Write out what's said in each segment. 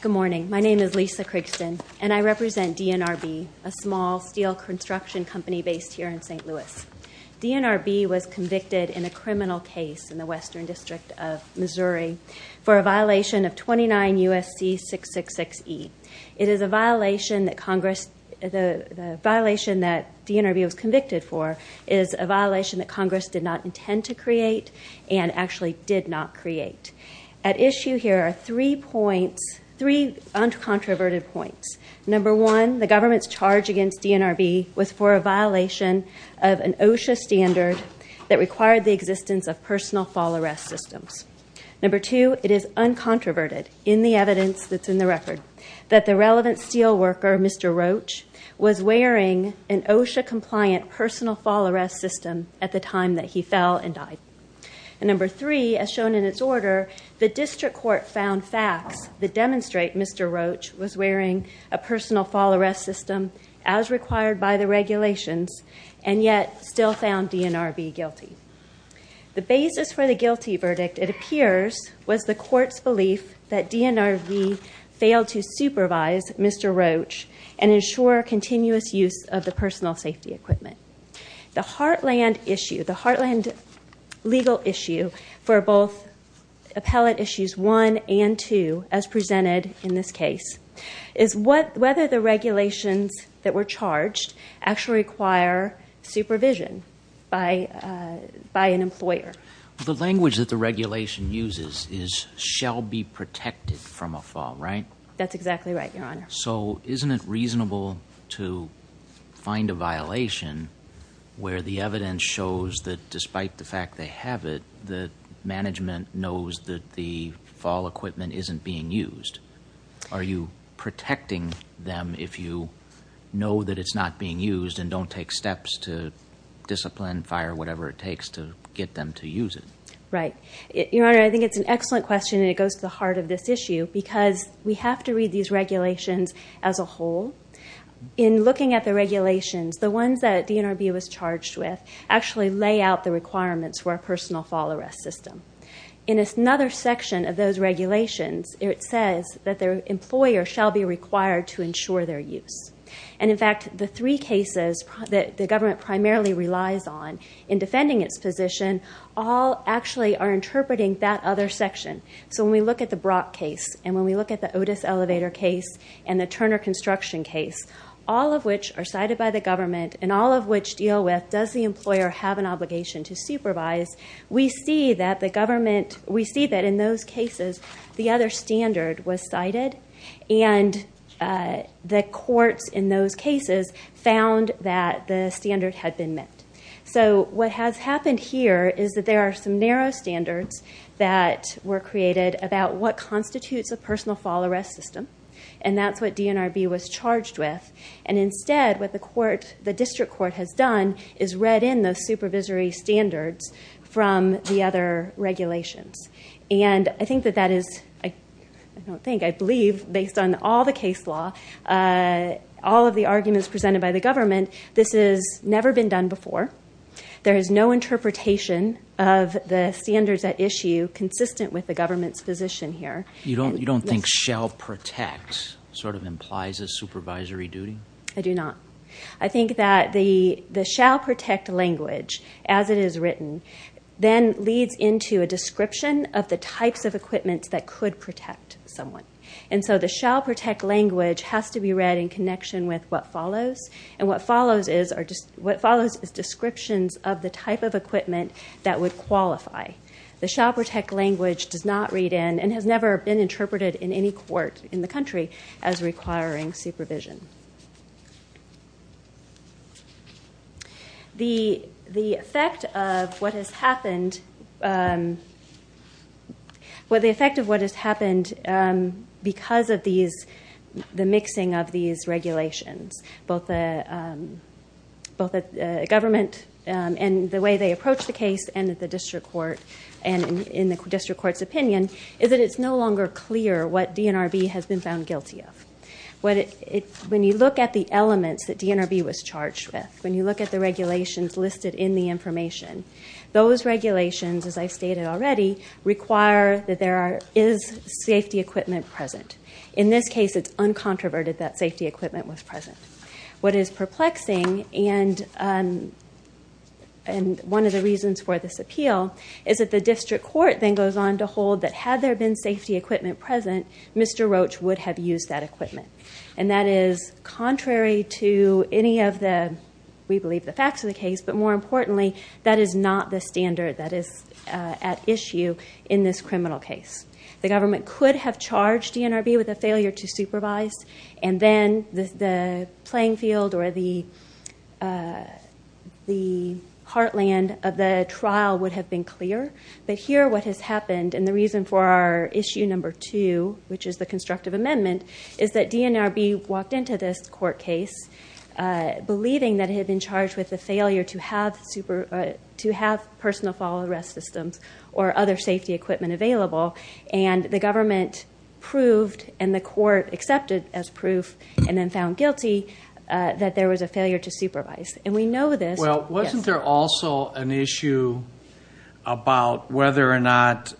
Good morning. My name is Lisa Crigston, and I represent DNRB, a small steel construction company based here in St. Louis. DNRB was convicted in a criminal case in the Western District of Missouri for a violation of 29 U.S.C. 666E. The violation that DNRB was convicted for is a violation that Congress did not intend to create and actually did not create. At issue here are three points, three uncontroverted points. Number one, the government's charge against DNRB was for a violation of an OSHA standard that required the existence of personal fall arrest systems. Number two, it is uncontroverted in the evidence that's in the record that the relevant steel worker, Mr. Roach, was wearing an OSHA-compliant personal fall arrest system at the time that he fell and died. And number three, as shown in its order, the district court found facts that demonstrate Mr. Roach was wearing a personal fall arrest system as required by the regulations and yet still found DNRB guilty. The basis for Roach and ensure continuous use of the personal safety equipment. The heartland issue, the heartland legal issue for both appellate issues one and two, as presented in this case, is whether the regulations that were charged actually require supervision by an employer. The language that the regulation uses is, shall be protected from a fall, right? That's exactly right, Your Honor. So isn't it reasonable to find a violation where the evidence shows that despite the fact they have it, the management knows that the fall equipment isn't being used? Are you protecting them if you know that it's not being used and don't take steps to discipline, fire, whatever it takes to get them to use it? Right. Your Honor, I think it's an excellent question and it goes to the heart of this issue because we have to read these regulations as a whole. In looking at the regulations, the ones that DNRB was charged with actually lay out the requirements for a personal fall arrest system. In another section of those regulations, it says that the employer shall be required to ensure their use. And in fact, the three cases that the government primarily relies on in defending its position all actually are interpreting that other section. So when we look at the Brock case, and when we look at the Otis Elevator case, and the Turner Construction case, all of which are cited by the government, and all of which deal with does the employer have an obligation to supervise, we see that the government, we see that in those cases the other standard was cited and the courts in those cases found that the standard had been met. So what has happened here is that there are some narrow standards that were created about what constitutes a personal fall arrest system. And that's what DNRB was charged with. And instead, what the district court has done is read in those supervisory standards from the other regulations. And I think that that is, I don't think, I believe, based on all the case law, all of the arguments presented by the government, this has never been done before. There is no interpretation of the standards at issue consistent with the government's position here. You don't think shall protect sort of implies a supervisory duty? I do not. I think that the shall protect language, as it is written, then leads into a description of the types of equipment that could protect someone. And so the shall protect language has to be read in connection with what follows. And what follows is descriptions of the type of equipment that would qualify. The shall protect language does not read in and has never been interpreted in any court in the country as requiring supervision. The effect of what has happened because of these, the misuse of these standards is that the mixing of these regulations, both the government and the way they approach the case and the district court, and in the district court's opinion, is that it's no longer clear what DNRB has been found guilty of. When you look at the elements that DNRB was charged with, when you look at the regulations listed in the information, those regulations, as I've stated already, require that there is safety equipment present. In this case, it's uncontroverted that safety equipment was present. What is perplexing, and one of the reasons for this appeal, is that the district court then goes on to hold that had there been safety equipment present, Mr. Roach would have used that equipment. And that is contrary to any of the, we believe, the facts of the case, but more importantly, that is not the standard that is at issue in this criminal case. The government could have charged DNRB with a failure to supervise, and then the playing field or the heartland of the trial would have been clear. But here, what has happened, and the reason for our issue number two, which is the constructive amendment, is that DNRB walked into this court case believing that it had been charged with the failure to have personal fall arrest systems or other safety equipment available. And the government proved, and the court accepted as proof, and then found guilty, that there was a failure to supervise. And we know this. Well, wasn't there also an issue about whether or not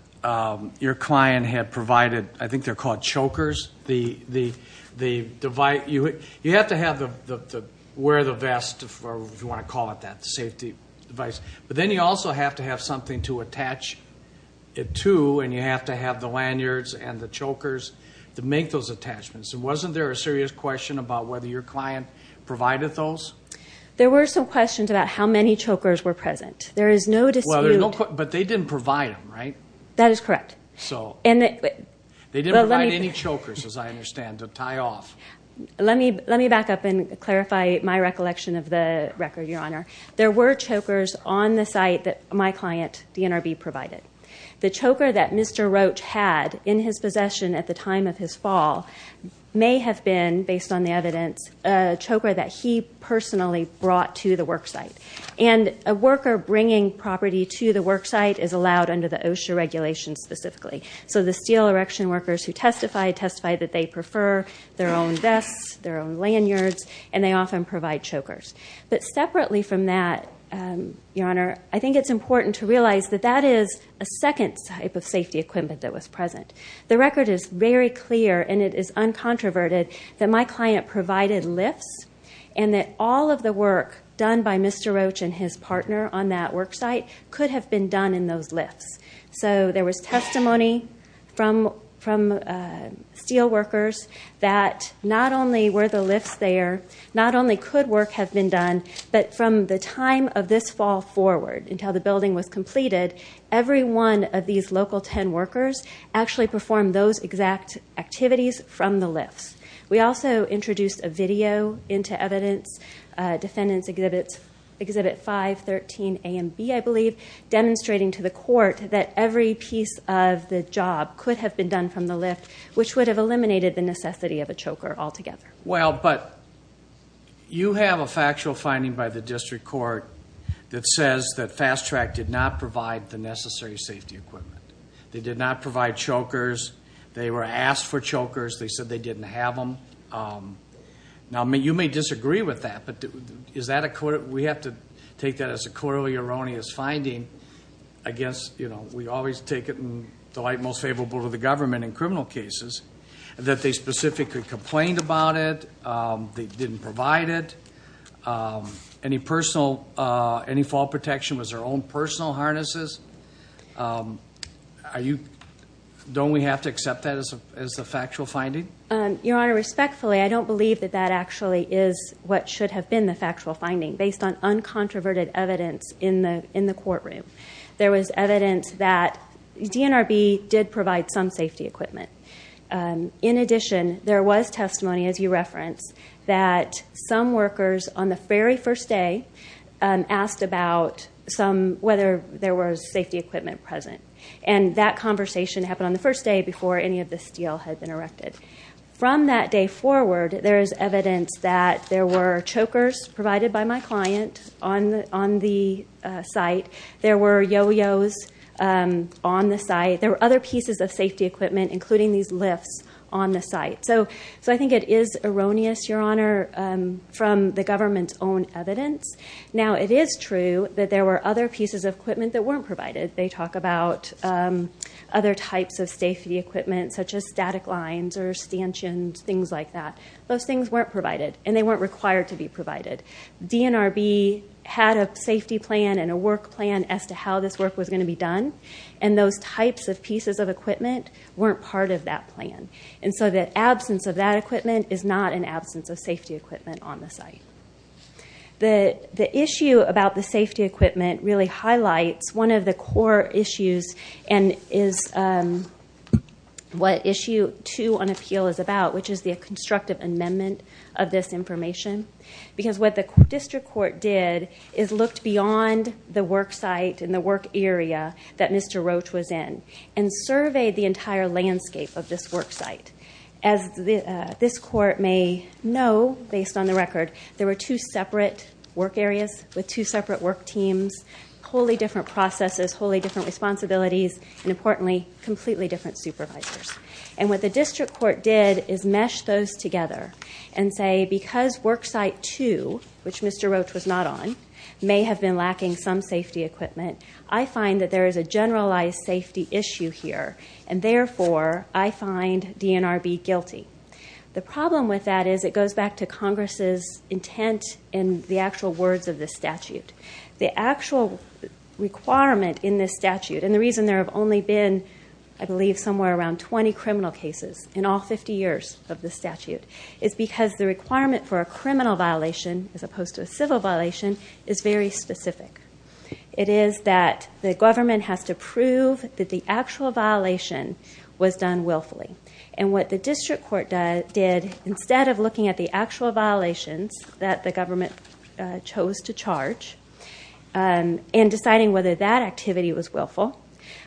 your client had provided, I think they are called chokers, the device, you have to have the, wear the vest, if you want to call it that, the safety device. But then you also have to have something to attach it to, and you have to have the lanyards and the chokers to make those attachments. So wasn't there a serious question about whether your client provided those? There were some questions about how many chokers were present. There is no dispute. Well, there's no question, but they didn't provide them, right? That is correct. So, they didn't provide any chokers, as I understand, to tie off. Let me back up and clarify my recollection of the record, Your Honor. There were chokers on the site that my client, DNRB, provided. The choker that Mr. Roach had in his possession at the time of his fall may have been, based on the evidence, a choker that he personally brought to the work site. And a worker bringing property to the work site is allowed under the OSHA regulations specifically. So the steel erection workers who testify, testify that they prefer their own vests, their own lanyards, and they often provide chokers. But separately from that, Your Honor, I think it's important to realize that that is a second type of safety equipment that was present. The record is very clear, and it is uncontroverted, that my client provided lifts, and that all of the work done by Mr. Roach and his partner on that work site could have been done in those lifts. So there was testimony from steel workers that not only were the lifts there, not only could work have been done, but from the time of this fall forward, until the building was completed, every one of these local ten workers actually performed those exact activities from the lifts. We also introduced a video into evidence, Defendant's Exhibit 513 A and B, I believe, demonstrating to the court that every piece of the job could have been done from the lift, which would have eliminated the necessity of a choker altogether. Well, but you have a factual finding by the District Court that says that Fast Track did not provide the necessary safety equipment. They did not provide chokers. They were asked for chokers. They said they didn't have them. Now, you may disagree with that, but is that we have to take that as a corollary erroneous finding against, you know, we always take it in the light most favorable to the government in criminal cases, that they specifically complained about it. They didn't provide it. Any personal, any fall protection was their own personal harnesses. Are you, don't we have to accept that as a factual finding? Your Honor, respectfully, I don't believe that that actually is what should have been the factual finding based on uncontroverted evidence in the courtroom. There was evidence that DNRB did provide some safety equipment. In addition, there was testimony, as you referenced, that some workers on the very first day asked about some, whether there was safety equipment present. And that conversation happened on the first day before any of the steel had been erected. From that day forward, there is evidence that there were chokers provided by my client on the site. There were yo-yos on the site. There were other pieces of safety equipment, including these lifts on the site. So I think it is erroneous, Your Honor, from the government's own evidence. Now, it is true that there were other pieces of equipment that weren't provided. They talk about other types of safety equipment such as static lines or stanchions, things like that. Those things weren't provided. And they weren't required to be provided. DNRB had a safety plan and a work plan as to how this work was going to be done. And those types of pieces of equipment weren't part of that plan. And so the absence of that equipment is not an absence of safety equipment on the site. The issue about the safety equipment really highlights one of the core issues and is what issue two on appeal is about, which is the constructive amendment of this information. Because what the district court did is looked beyond the work site and the work area that Mr. Roach was in and surveyed the entire landscape of this work site. As this court may know based on the record, there were two separate work areas with two separate work teams, wholly different processes, wholly different responsibilities, and importantly, completely different supervisors. And what the district court did is mesh those together and say, because work site two, which Mr. Roach was not on, may have been lacking some safety equipment, I find that there is a generalized safety issue here. And therefore, I find DNRB guilty. The problem with that is it goes back to Congress' intent and the actual words of this statute. The actual requirement in this statute, and the reason there have only been, I believe, somewhere around 20 criminal cases in all 50 years of this statute, is because the requirement for a criminal violation as opposed to a civil violation is very specific. It is that the government has to prove that the actual violation was done willfully. And what the district court did, instead of looking at the actual violations that the government chose to charge and deciding whether that activity was willful,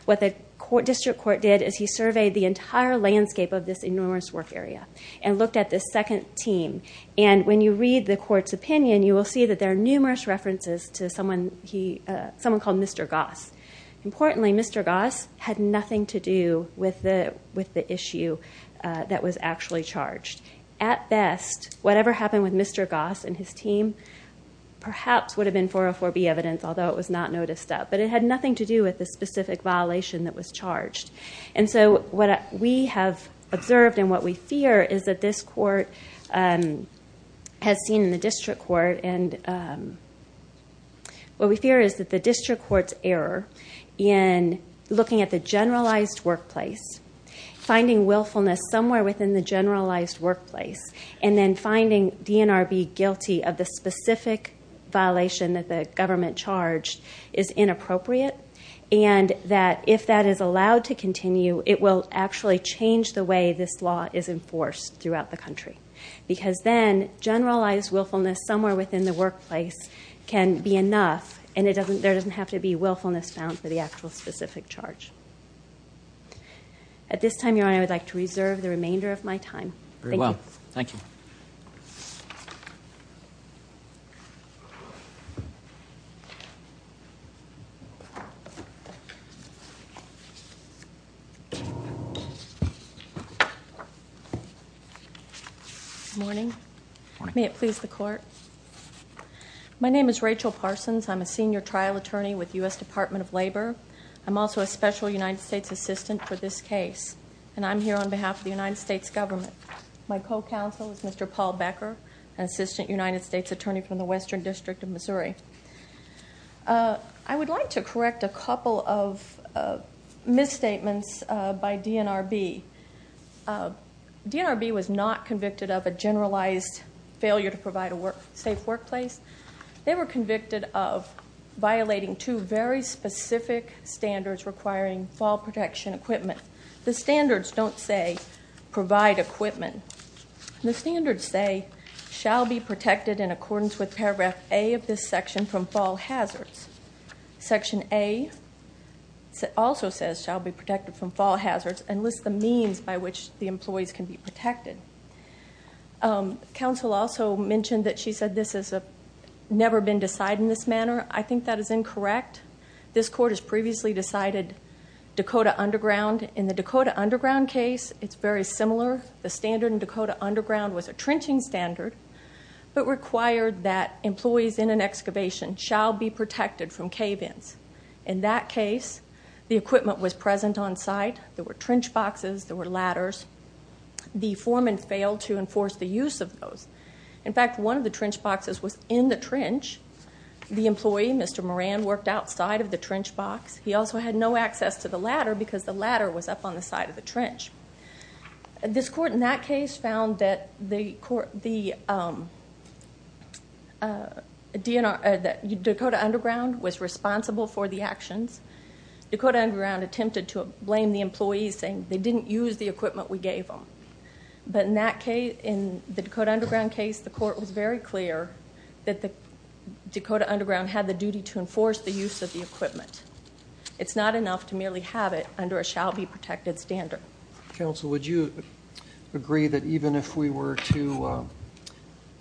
what the district court did is he surveyed the entire landscape of this enormous work area and looked at this second team. And when you read the court's opinion, you will see that there are numerous references to someone called Mr. Goss had nothing to do with the issue that was actually charged. At best, whatever happened with Mr. Goss and his team perhaps would have been 404B evidence, although it was not noticed up. But it had nothing to do with the specific violation that was charged. And so what we have observed and what we fear is that this court has seen in the district court and what we fear is that looking at the generalized workplace, finding willfulness somewhere within the generalized workplace, and then finding DNRB guilty of the specific violation that the government charged is inappropriate. And that if that is allowed to continue, it will actually change the way this law is enforced throughout the country. Because then generalized willfulness somewhere within the workplace can be enough and there doesn't have to be a specific charge. At this time, Your Honor, I would like to reserve the remainder of my time. Thank you. Very well. Thank you. Good morning. May it please the court. My name is Rachel Parsons. I'm a senior trial attorney with the U.S. Department of Labor. I'm also a special United States assistant for this case. And I'm here on behalf of the United States government. My co-counsel is Mr. Paul Becker, an assistant United States attorney from the Western District of Missouri. I would like to correct a couple of misstatements by DNRB. DNRB was not convicted of a generalized failure to provide a safe workplace. They were convicted of violating two very specific standards requiring fall protection equipment. The standards don't say provide equipment. The standards say shall be protected in accordance with paragraph A of this section from fall hazards. Section A also says shall be protected from fall hazards and lists the means by which the employees can be protected. Counsel also mentioned that she said this has never been decided in this manner. I think that is incorrect. This court has previously decided Dakota Underground. In the Dakota Underground case, it's very similar. The standard in Dakota Underground was a trenching standard, but required that employees in an excavation shall be protected from cave-ins. In that case, the equipment was present on site. There were trench boxes. There were ladders. The foreman failed to In fact, one of the trench boxes was in the trench. The employee, Mr. Moran, worked outside of the trench box. He also had no access to the ladder because the ladder was up on the side of the trench. This court in that case found that Dakota Underground was responsible for the actions. Dakota Underground attempted to blame the employees saying they didn't use the equipment we gave them. In the Dakota Underground case, the court was very clear that Dakota Underground had the duty to enforce the use of the equipment. It's not enough to merely have it under a shall be protected standard. Counsel, would you agree that even if we were to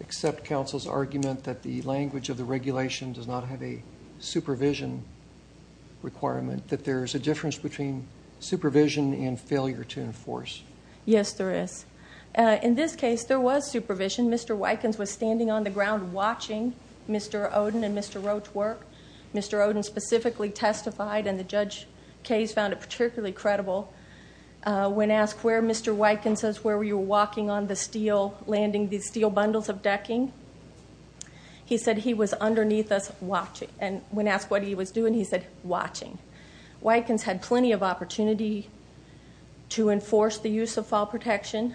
accept counsel's argument that the language of the regulation does not have a supervision requirement, that there is a difference between Yes, there is. In this case, there was supervision. Mr. Wykens was standing on the ground watching Mr. Oden and Mr. Roach work. Mr. Oden specifically testified, and the Judge Kayes found it particularly credible when asked where Mr. Wykens was, where we were walking on the steel, landing these steel bundles of decking. He said he was underneath us watching. When asked what enforced the use of fall protection,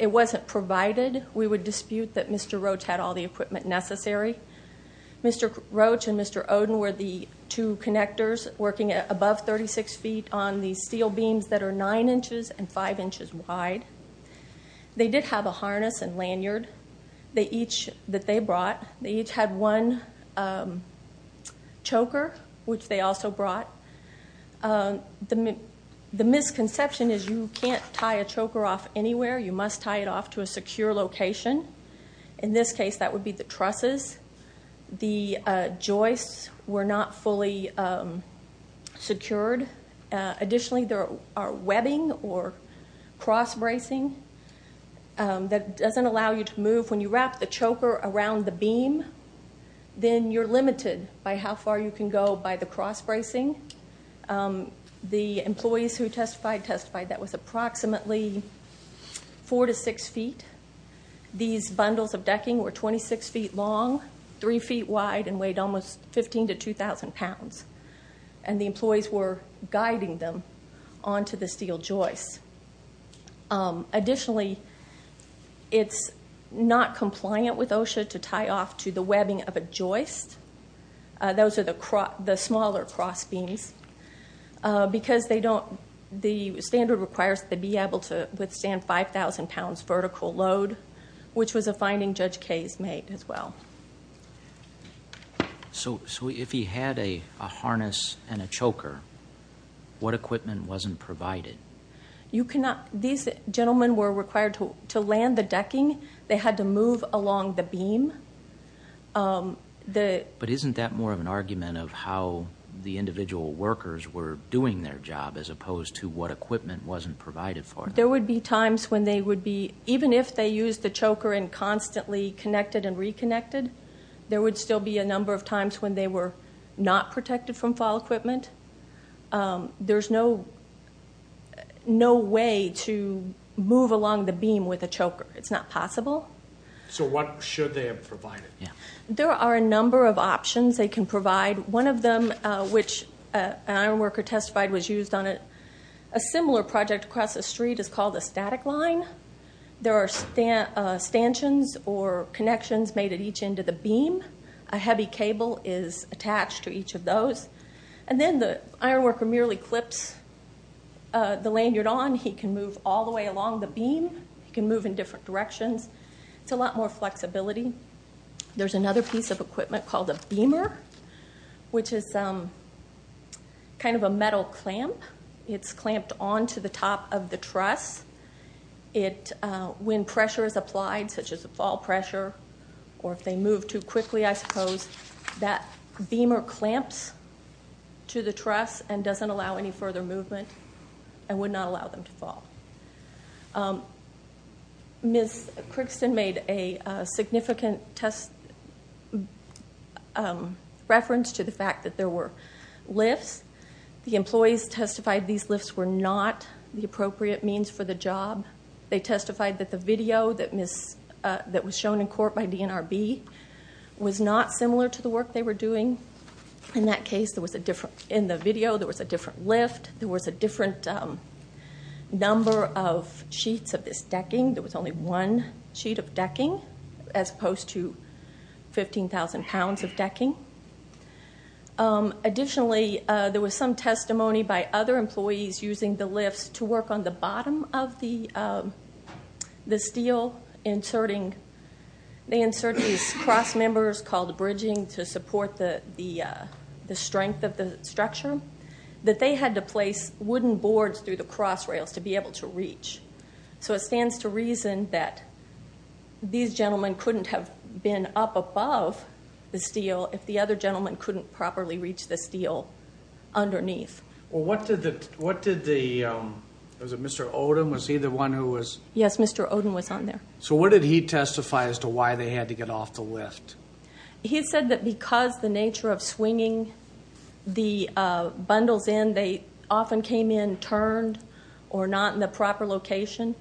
it wasn't provided. We would dispute that Mr. Roach had all the equipment necessary. Mr. Roach and Mr. Oden were the two connectors working above 36 feet on these steel beams that are 9 inches and 5 inches wide. They did have a harness and lanyard that they brought. They each had one choker, which they also brought. The misconception is you can't tie a choker off anywhere. You must tie it off to a secure location. In this case, that would be the trusses. The joists were not fully secured. Additionally, there are webbing or cross bracing that doesn't allow you to move. When you wrap the choker around the beam, then you're limited by how far you can go by the cross bracing. The employees who testified, testified that was approximately 4 to 6 feet. These bundles of decking were 26 feet long, 3 feet wide, and weighed almost 15 to 2,000 pounds. The employees were guiding them onto the steel joists. Additionally, it's not compliant with OSHA to tie off to the webbing of a joist. Those are the smaller cross beams. The standard requires that they be able to withstand 5,000 pounds vertical load, which was a finding Judge Kaye's made as well. So, if he had a harness and a choker, what equipment wasn't provided? These gentlemen were required to land the decking. They had to move along the beam. But isn't that more of an argument of how the individual workers were doing their job as opposed to what equipment wasn't provided for them? There would be times when they would be, even if they used the choker and constantly connected and reconnected, there would still be a number of times when they were not protected from fall equipment. There's no way to move along the beam with a choker. It's not possible. So what should they have provided? There are a number of options they can provide. One of them, which an iron worker testified was used on a similar project across the street is called a static line. There are stanchions or connections made at each end of the beam. A heavy cable is attached to each of those. And then the iron worker merely clips the lanyard on. He can move all the way along the beam. He can move in different directions. It's a lot more flexibility. There's another piece of equipment called a beamer, which is kind of a metal clamp. It's clamped onto the top of the truss. When pressure is applied, such as a fall pressure, or if they move too quickly, I suppose, that beamer clamps to the truss and doesn't allow any further movement and would not allow them to fall. Ms. Crickston made a significant reference to the fact that there were lifts. The employees testified these lifts were not the appropriate means for the job. They testified that the video that was shown in court by DNRB was not similar to the work they were doing. In that case, in the video, there was a different lift. There was a different number of sheets of this decking. There was only one sheet of decking, as opposed to 15,000 pounds of decking. By other employees using the lifts to work on the bottom of the steel, they insert these cross members called bridging to support the strength of the structure, that they had to place wooden boards through the cross rails to be able to reach. It stands to reason that these gentlemen couldn't have been up above the steel if the other gentleman couldn't properly reach the steel underneath. Well, what did the, what did the, was it Mr. Odom, was he the one who was? Yes, Mr. Odom was on there. So what did he testify as to why they had to get off the lift? He said that because the nature of swinging the bundles in, they often came in turned or not in the proper location.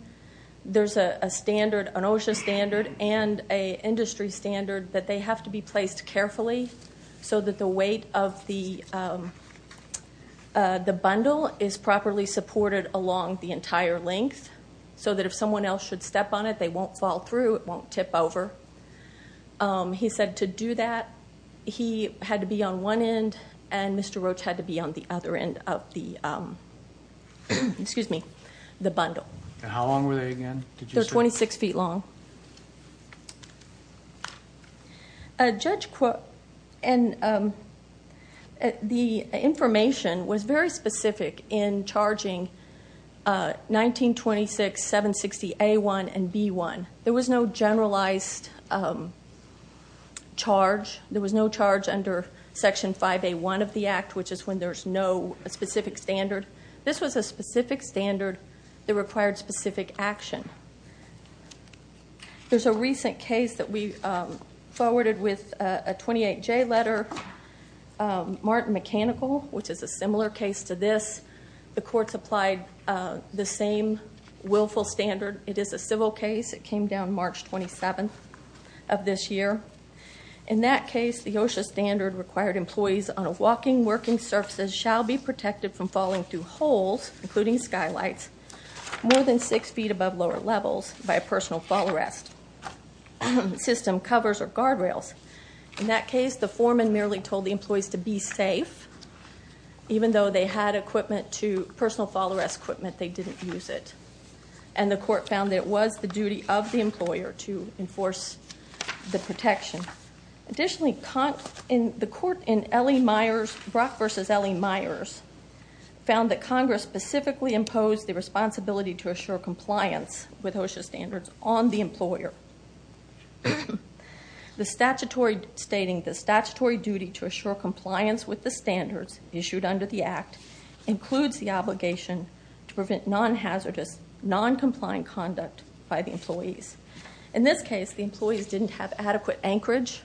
There's a standard, an OSHA standard and an industry standard that they have to be placed carefully so that the weight of the bundle is properly supported along the entire length, so that if someone else should step on it, they won't fall through, it won't tip over. He said to do that, he had to be on one end and Mr. Roach had to be on the other end of the, excuse me, the bundle. How long were they again? They're 26 feet long. Judge Quirk, and the information was very specific in charging 1926, 760A1 and B1. There was no generalized charge. There was no charge under Section 5A1 of the Act, which is when there's no specific standard. This was a specific standard that required specific action. There's a recent case that we forwarded with a 28J letter, Martin Mechanical, which is a similar case to this. The courts applied the same willful standard. It is a civil case. It came down March 27th of this year. In that case, the OSHA standard required employees on walking, working surfaces shall be protected from falling through holes, including skylights, more than six feet above lower levels by a personal fall arrest system, covers or guard rails. In that case, the foreman merely told the employees to be safe. Even though they had equipment to, personal fall arrest equipment, they didn't use it. And the court found that it was the duty of the employer to enforce the protection. Additionally, the court in Brock v. L.E. Myers found that Congress specifically imposed the responsibility to assure compliance with OSHA standards on the employer, stating the statutory duty to assure compliance with the standards issued under the Act includes the obligation to prevent non-hazardous, non-compliant conduct by the employees. In this case, the employees didn't have adequate anchorage.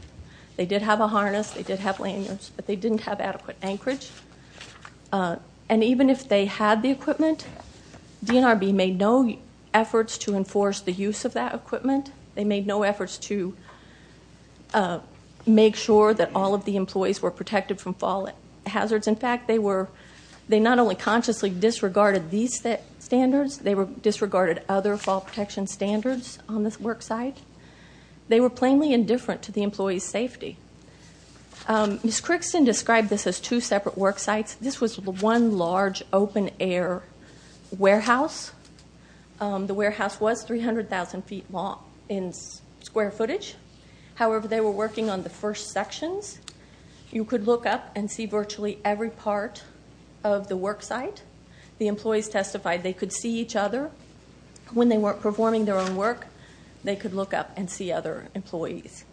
They did have a harness. They did have lanyards, but they even if they had the equipment, DNRB made no efforts to enforce the use of that equipment. They made no efforts to make sure that all of the employees were protected from fall hazards. In fact, they not only consciously disregarded these standards, they disregarded other fall protection standards on this worksite. They were plainly indifferent to the employee's safety. Ms. Crickson described this as two separate worksites. This was one large open-air warehouse. The warehouse was 300,000 feet long in square footage. However, they were working on the first sections. You could look up and see virtually every part of the worksite. The employees testified they could see each other. When they weren't performing their own work, they could look up and see other employees.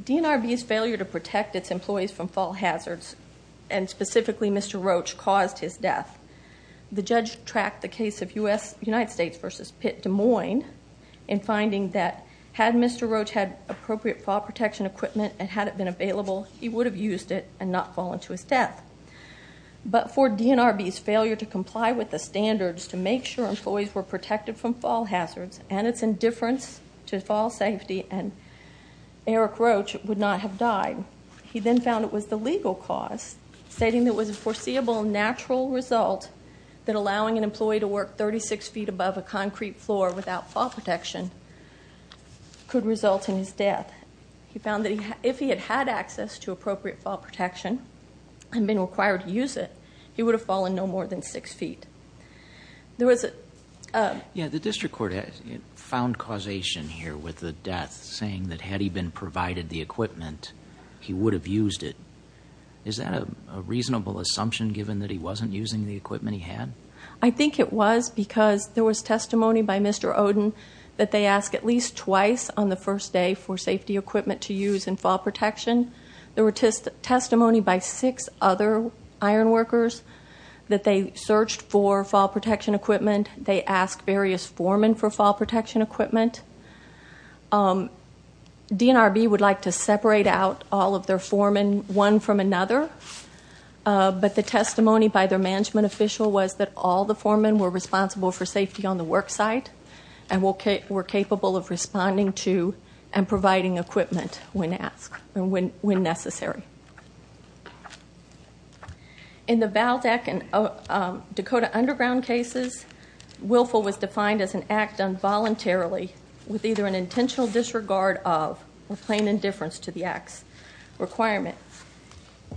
DNRB's failure to protect its employees from fall hazards and specifically Mr. Roach caused his death. The judge tracked the case of United States v. Pitt-Des Moines in finding that had Mr. Roach had appropriate fall protection equipment and had it been available, he would have used it and not fallen to his death. For DNRB's failure to comply with the standards to make sure employees were protected from fall hazards and its indifference to fall safety and Eric Roach would not have died, he then found it was the legal cause, stating it was a foreseeable natural result that allowing an employee to work 36 feet above a concrete floor without fall protection could result in his death. He found that if he had had access to appropriate fall protection and been required to use it, he would have fallen no more than 6 feet. The district court found causation here with the death saying that had he been provided the equipment, he would have used it. Is that a reasonable assumption given that he wasn't using the equipment he had? I think it was because there was testimony by Mr. Oden that they asked at least twice on the first day for safety equipment to use in fall protection. There was testimony by six other iron workers that they searched for fall protection equipment. They asked various foremen for fall protection equipment. DNRB would like to separate out all of their foremen, one from another, but the testimony by their management official was that all the foremen were responsible for safety on the work site and were capable of responding to and providing equipment when asked and when necessary. In the Valdeck and Dakota Underground cases, willful was defined as an act done voluntarily with either an intentional disregard of or plain indifference to the act's requirement.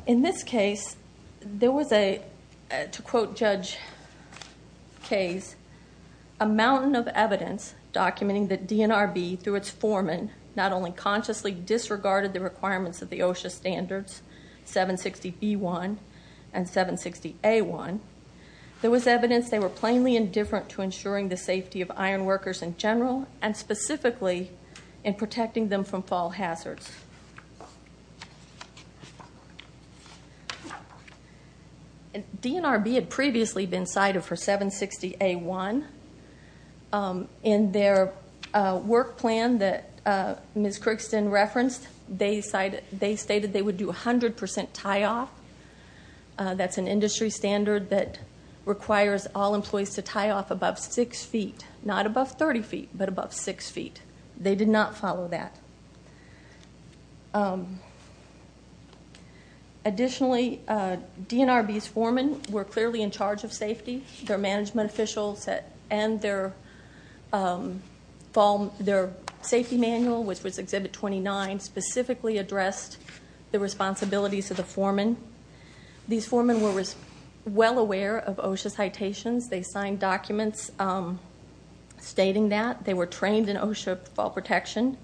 In this case, there was a, to quote Judge Kaye's, a mountain of evidence documenting that DNRB, through its foreman, not only consciously disregarded the requirements of the OSHA standards, 760B1 and 760A1, there was evidence they were plainly indifferent to ensuring the safety of iron workers in general and specifically in protecting them from fall hazards. DNRB had previously been cited for 760A1. In their work plan that Ms. Crookston referenced, they stated they would do 100% tie-off. That's an industry standard that requires all employees to tie-off above 6 feet, not above 30 feet, but above 6 feet. They did not follow that. Additionally, DNRB's foremen were clearly in charge of safety. Their management officials and their safety manual, which was Exhibit 29, specifically addressed the responsibilities of the foremen. These foremen were well aware of OSHA's citations. They signed documents stating that. They were trained in OSHA fall protection.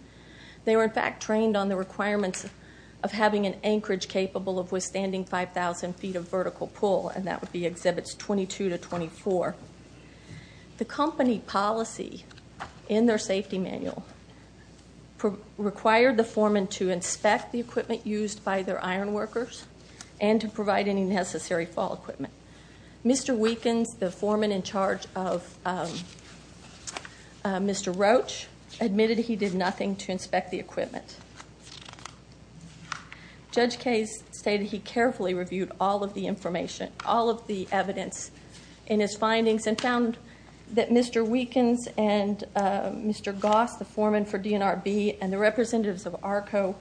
They were, in fact, trained on the requirements of having an anchorage capable of withstanding 5,000 feet of vertical pull, and that would be Exhibits 22 to 24. The company policy in their safety manual required the foremen to inspect the equipment used by their iron workers and to provide any necessary fall equipment. Mr. Weekins, the foreman in charge of Mr. Roach, admitted he did nothing to inspect the equipment. Judge Case stated he carefully reviewed all of the information, all of the evidence in his findings, and found that Mr. Weekins and Mr. Goss, the foreman for DNRB, and the representatives of ARCO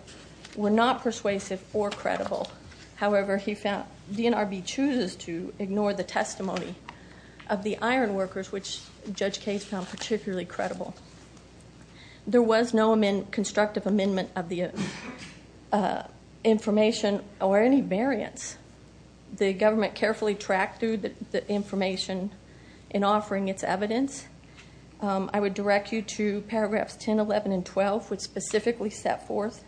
were not persuasive or credible. However, he found DNRB chooses to ignore the testimony of the iron workers, which Judge Case found particularly credible. There was no constructive amendment of the information or any variance. The government carefully tracked through the information in offering its evidence. I would direct you to paragraphs 10, 11, and 12, which specifically set forth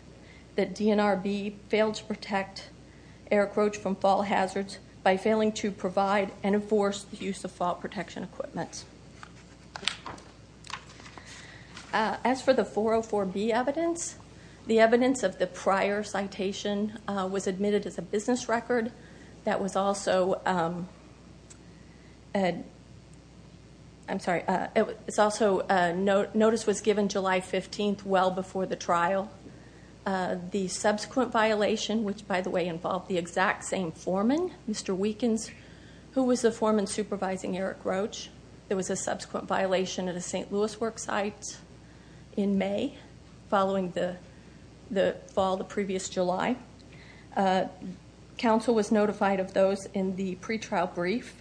that DNRB failed to protect Eric Roach from fall hazards by failing to provide and enforce the use of fall protection equipment. As for the 404B evidence, the evidence of the prior citation was admitted as a business record that was also... I'm sorry. It's also... Notice was given July 15th, well before the trial. The subsequent violation, which by the way involved the exact same foreman, Mr. Weekins, who was the foreman supervising Eric Roach, there was a subsequent violation at the St. Louis worksite in May following the fall the previous July. Council was notified of those in the pretrial brief.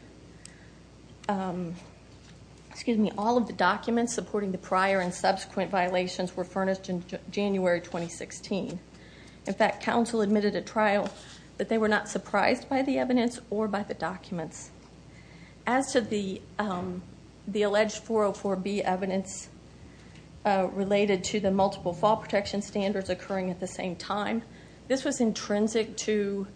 Excuse me. All of the documents supporting the prior and subsequent violations were furnished in January 2016. In fact, council admitted at trial that they were not surprised by the evidence or by the documents. As to the alleged 404B evidence related to the multiple fall protection standards occurring at the same time, this was intrinsic to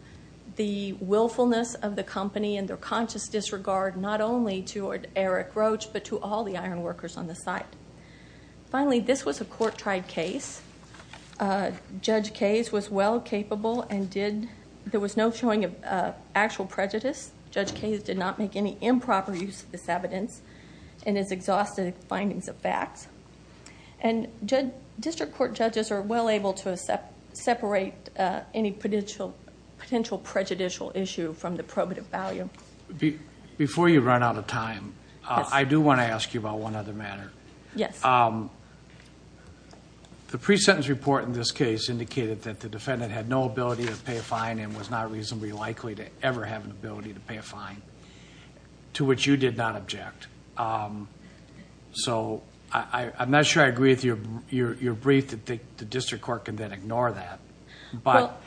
the willfulness of the company and their conscious disregard not only to Eric Roach, but to all the iron workers on the site. Finally, this was a court tried case. Judge Kays was well capable and did... There was no showing of actual prejudice. Judge Kays did not make any improper use of this evidence and is exhausted of findings of facts. District court judges are well able to separate any potential prejudicial issue from the probative value. Before you run out of time, I do want to ask you about one other matter. Yes. The pre-sentence report in this case indicated that the defendant had no ability to pay a fine, to which you did not object. I'm not sure I agree with your brief that the district court can then ignore that, but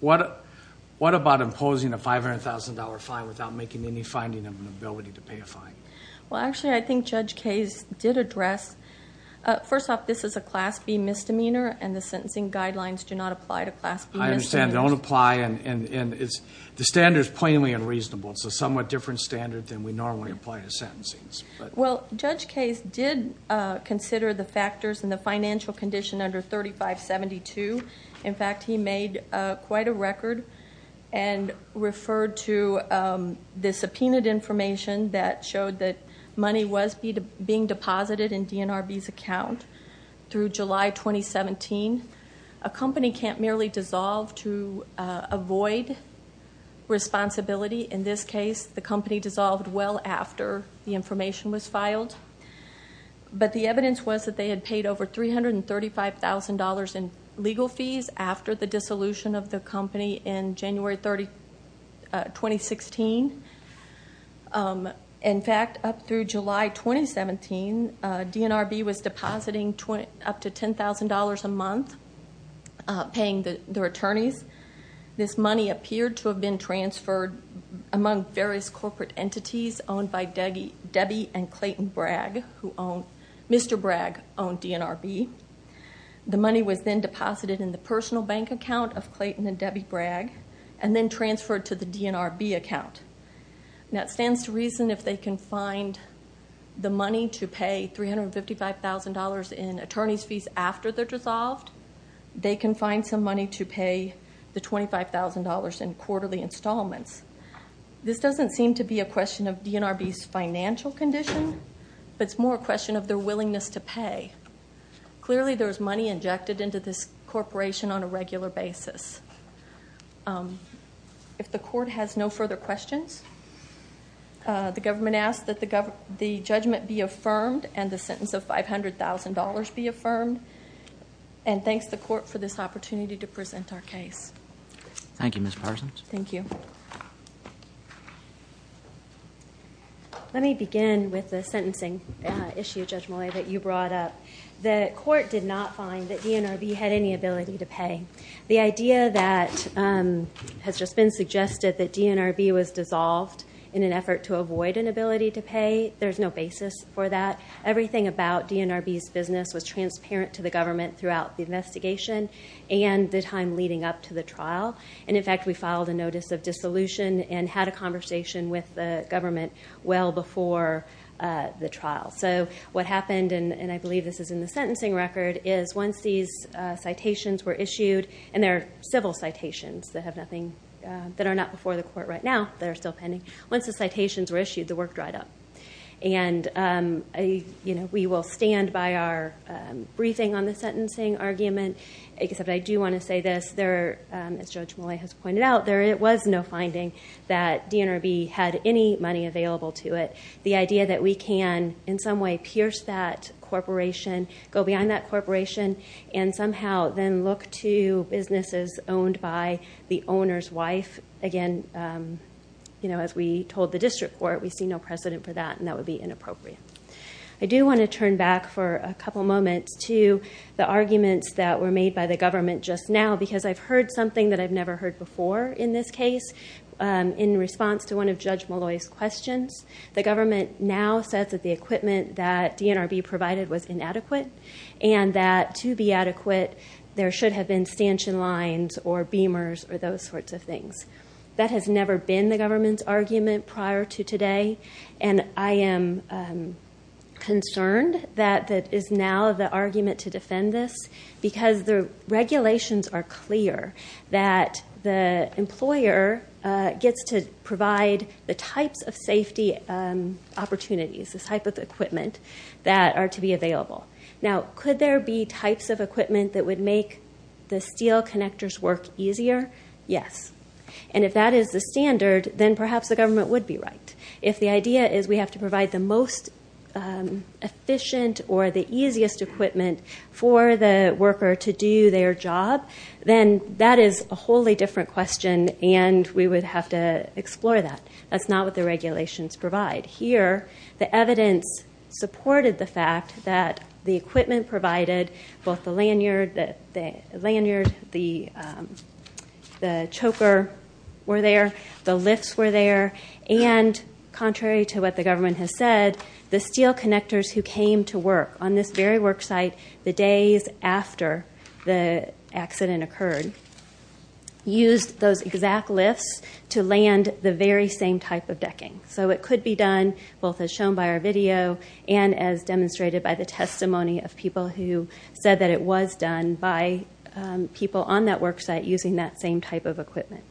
what about imposing a $500,000 fine without making any finding of an ability to pay a fine? Actually, I think Judge Kays did address... First off, this is a Class B misdemeanor and the sentencing guidelines do not apply to Class B misdemeanors. I understand. They don't apply. The standard is plainly unreasonable. It's a somewhat different standard than we normally apply to sentencing. Judge Kays did consider the factors in the financial condition under 3572. In fact, he made quite a record and referred to the subpoenaed information that showed that money was being dissolved to avoid responsibility. In this case, the company dissolved well after the information was filed. The evidence was that they had paid over $335,000 in legal fees after the dissolution of the company in January 2016. In fact, up through July 2017, DNRB was in the hands of attorneys. This money appeared to have been transferred among various corporate entities owned by Debbie and Clayton Bragg, who owned... Mr. Bragg owned DNRB. The money was then deposited in the personal bank account of Clayton and Debbie Bragg and then transferred to the DNRB account. That stands to reason if they can find the money to pay $355,000 in attorney's fees after they're dissolved, they can find some money to pay the $25,000 in quarterly installments. This doesn't seem to be a question of DNRB's financial condition, but it's more a question of their willingness to pay. Clearly, there's money injected into this corporation on a regular basis. If the court has no further questions, the government asks that the judgment be affirmed and the sentence of $500,000 be affirmed. Thanks to the court for this opportunity to present our case. Thank you, Ms. Parsons. Thank you. Let me begin with the sentencing issue, Judge Mollet, that you brought up. The court did not find that DNRB had any ability to pay. The idea that has just been suggested that everything about DNRB's business was transparent to the government throughout the investigation and the time leading up to the trial. In fact, we filed a notice of dissolution and had a conversation with the government well before the trial. What happened, and I believe this is in the sentencing record, is once these citations were issued, and they're civil citations that are not before the court right now, they're still pending. Once the citations were issued, the work dried up. We will stand by our briefing on the sentencing argument, except I do want to say this. As Judge Mollet has pointed out, there was no finding that DNRB had any money available to it. The idea that we can, in some way, pierce that corporation, go beyond that corporation, and somehow then look to businesses owned by the owner's wife, again, as we told the district court, we see no precedent for that, and that would be inappropriate. I do want to turn back for a couple moments to the arguments that were made by the government just now, because I've heard something that I've never heard before in this case. In response to one of Judge Mollet's questions, the government now says that the equipment that DNRB provided was inadequate, and that to be adequate, there should have been stanchion lines or beamers or those sorts of things. That has never been the government's argument prior to today, and I am concerned that it is now the argument to defend this, because the regulations are clear that the employer gets to provide the types of safety opportunities, the type of equipment that are to be available. Now, could there be types of equipment that would make the steel connectors work easier? Yes. And if that is the standard, then perhaps the government would be right. If the idea is we have to provide the most efficient or the easiest equipment for the worker to do their job, then that is a wholly different question, and we would have to explore that. That's not what the regulations provide. Here, the evidence supported the fact that the equipment provided, both the lanyard, the choker were there, the lifts were there, and contrary to what the government has said, the steel connectors who came to work on this very worksite the days after the accident occurred used those exact lifts to land the very same type of decking. It could be done, both as shown by our video and as demonstrated by the testimony of people who said that it was done by people on that worksite using that same type of equipment.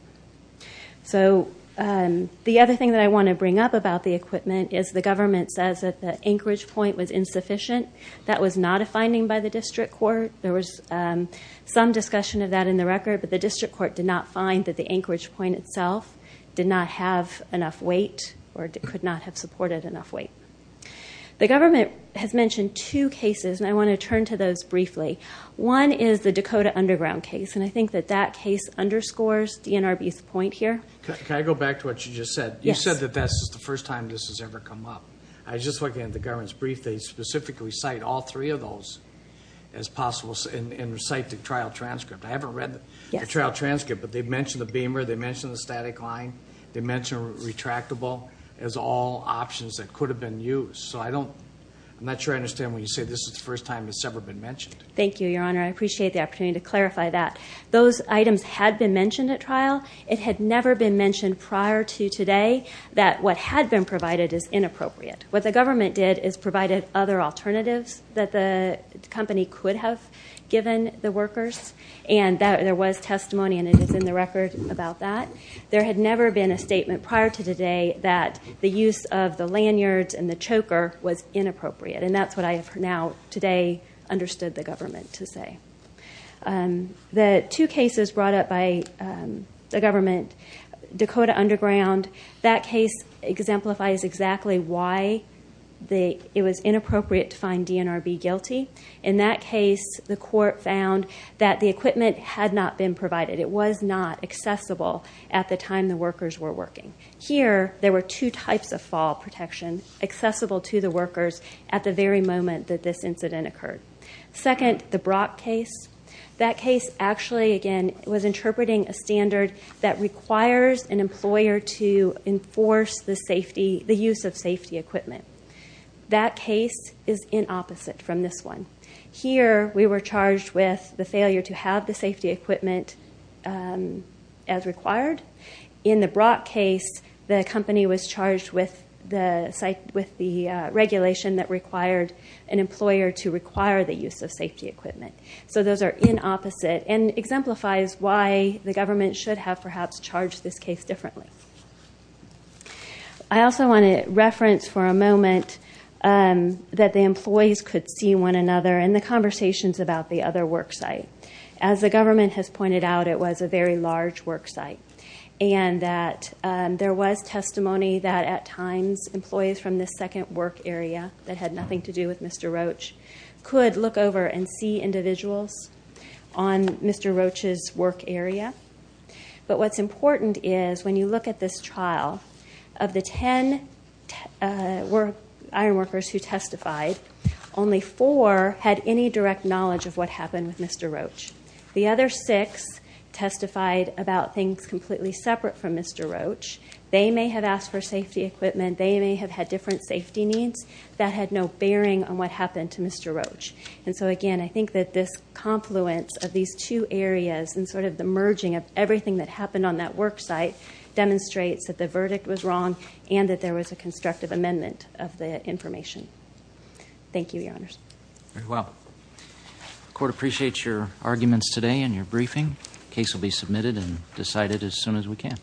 The other thing that I want to bring up about the equipment is the government says that the anchorage point was insufficient. That was not a finding by the district court. There was some discussion of that in the record, but the district court did not find that the anchorage point itself did not have enough weight or could not have supported enough weight. The government has mentioned two cases, and I want to turn to those briefly. One is the Dakota Underground case, and I think that that case underscores DNRB's point here. Can I go back to what you just said? Yes. You said that that's just the first time this has ever come up. I was just looking at the government's brief. They specifically cite all three of those as possible and recite the trial transcript. I haven't read them. Yes. The trial transcript, but they mentioned the beamer. They mentioned the static line. They mentioned retractable as all options that could have been used. I'm not sure I understand when you say this is the first time it's ever been mentioned. Thank you, Your Honor. I appreciate the opportunity to clarify that. Those items had been mentioned at trial. It had never been mentioned prior to today that what had been provided is inappropriate. What the government did is provided other alternatives that the company could have given the workers, and there was testimony and it is in the record about that. There had never been a statement prior to today that the use of the lanyards and the choker was inappropriate, and that's what I have now today understood the government to say. The two cases brought up by the government, Dakota Underground, that case exemplifies exactly why it was inappropriate to find DNRB guilty. In that case, the court found that the equipment had not been provided. It was not accessible at the time the workers were working. Here, there were two types of fall protection accessible to the workers at the very moment that this incident occurred. Second, the Brock case. That case actually, again, was interpreting a standard that requires an employer to enforce the use of safety equipment. That case is inopposite from this one. Here, we were charged with the failure to have the safety equipment as required. In the Brock case, the company was charged with the regulation that required an employer to require the use of safety equipment. Those are inopposite and exemplifies why the government should have, perhaps, charged this case differently. I also want to reference for a moment that the employees could see one another in the conversations about the other worksite. As the government has pointed out, it was a very large worksite. There was testimony that, at times, employees from the second work area that had nothing to do with Mr. Roach could look over and see individuals on Mr. Roach's work area. What's important is, when you look at this trial, of the ten ironworkers who testified, only four had any direct knowledge of what happened with Mr. Roach. The other six testified about things completely separate from Mr. Roach. They may have asked for safety equipment. They may have had different safety needs. That had no bearing on what happened to Mr. Roach. Again, I think that this confluence of these two areas and the merging of everything that happened on that worksite demonstrates that the verdict was wrong and that there was a constructive amendment of the information. Thank you, Your Honors. Very well. The Court appreciates your arguments today and your briefing. The case will be submitted and decided as soon as we can.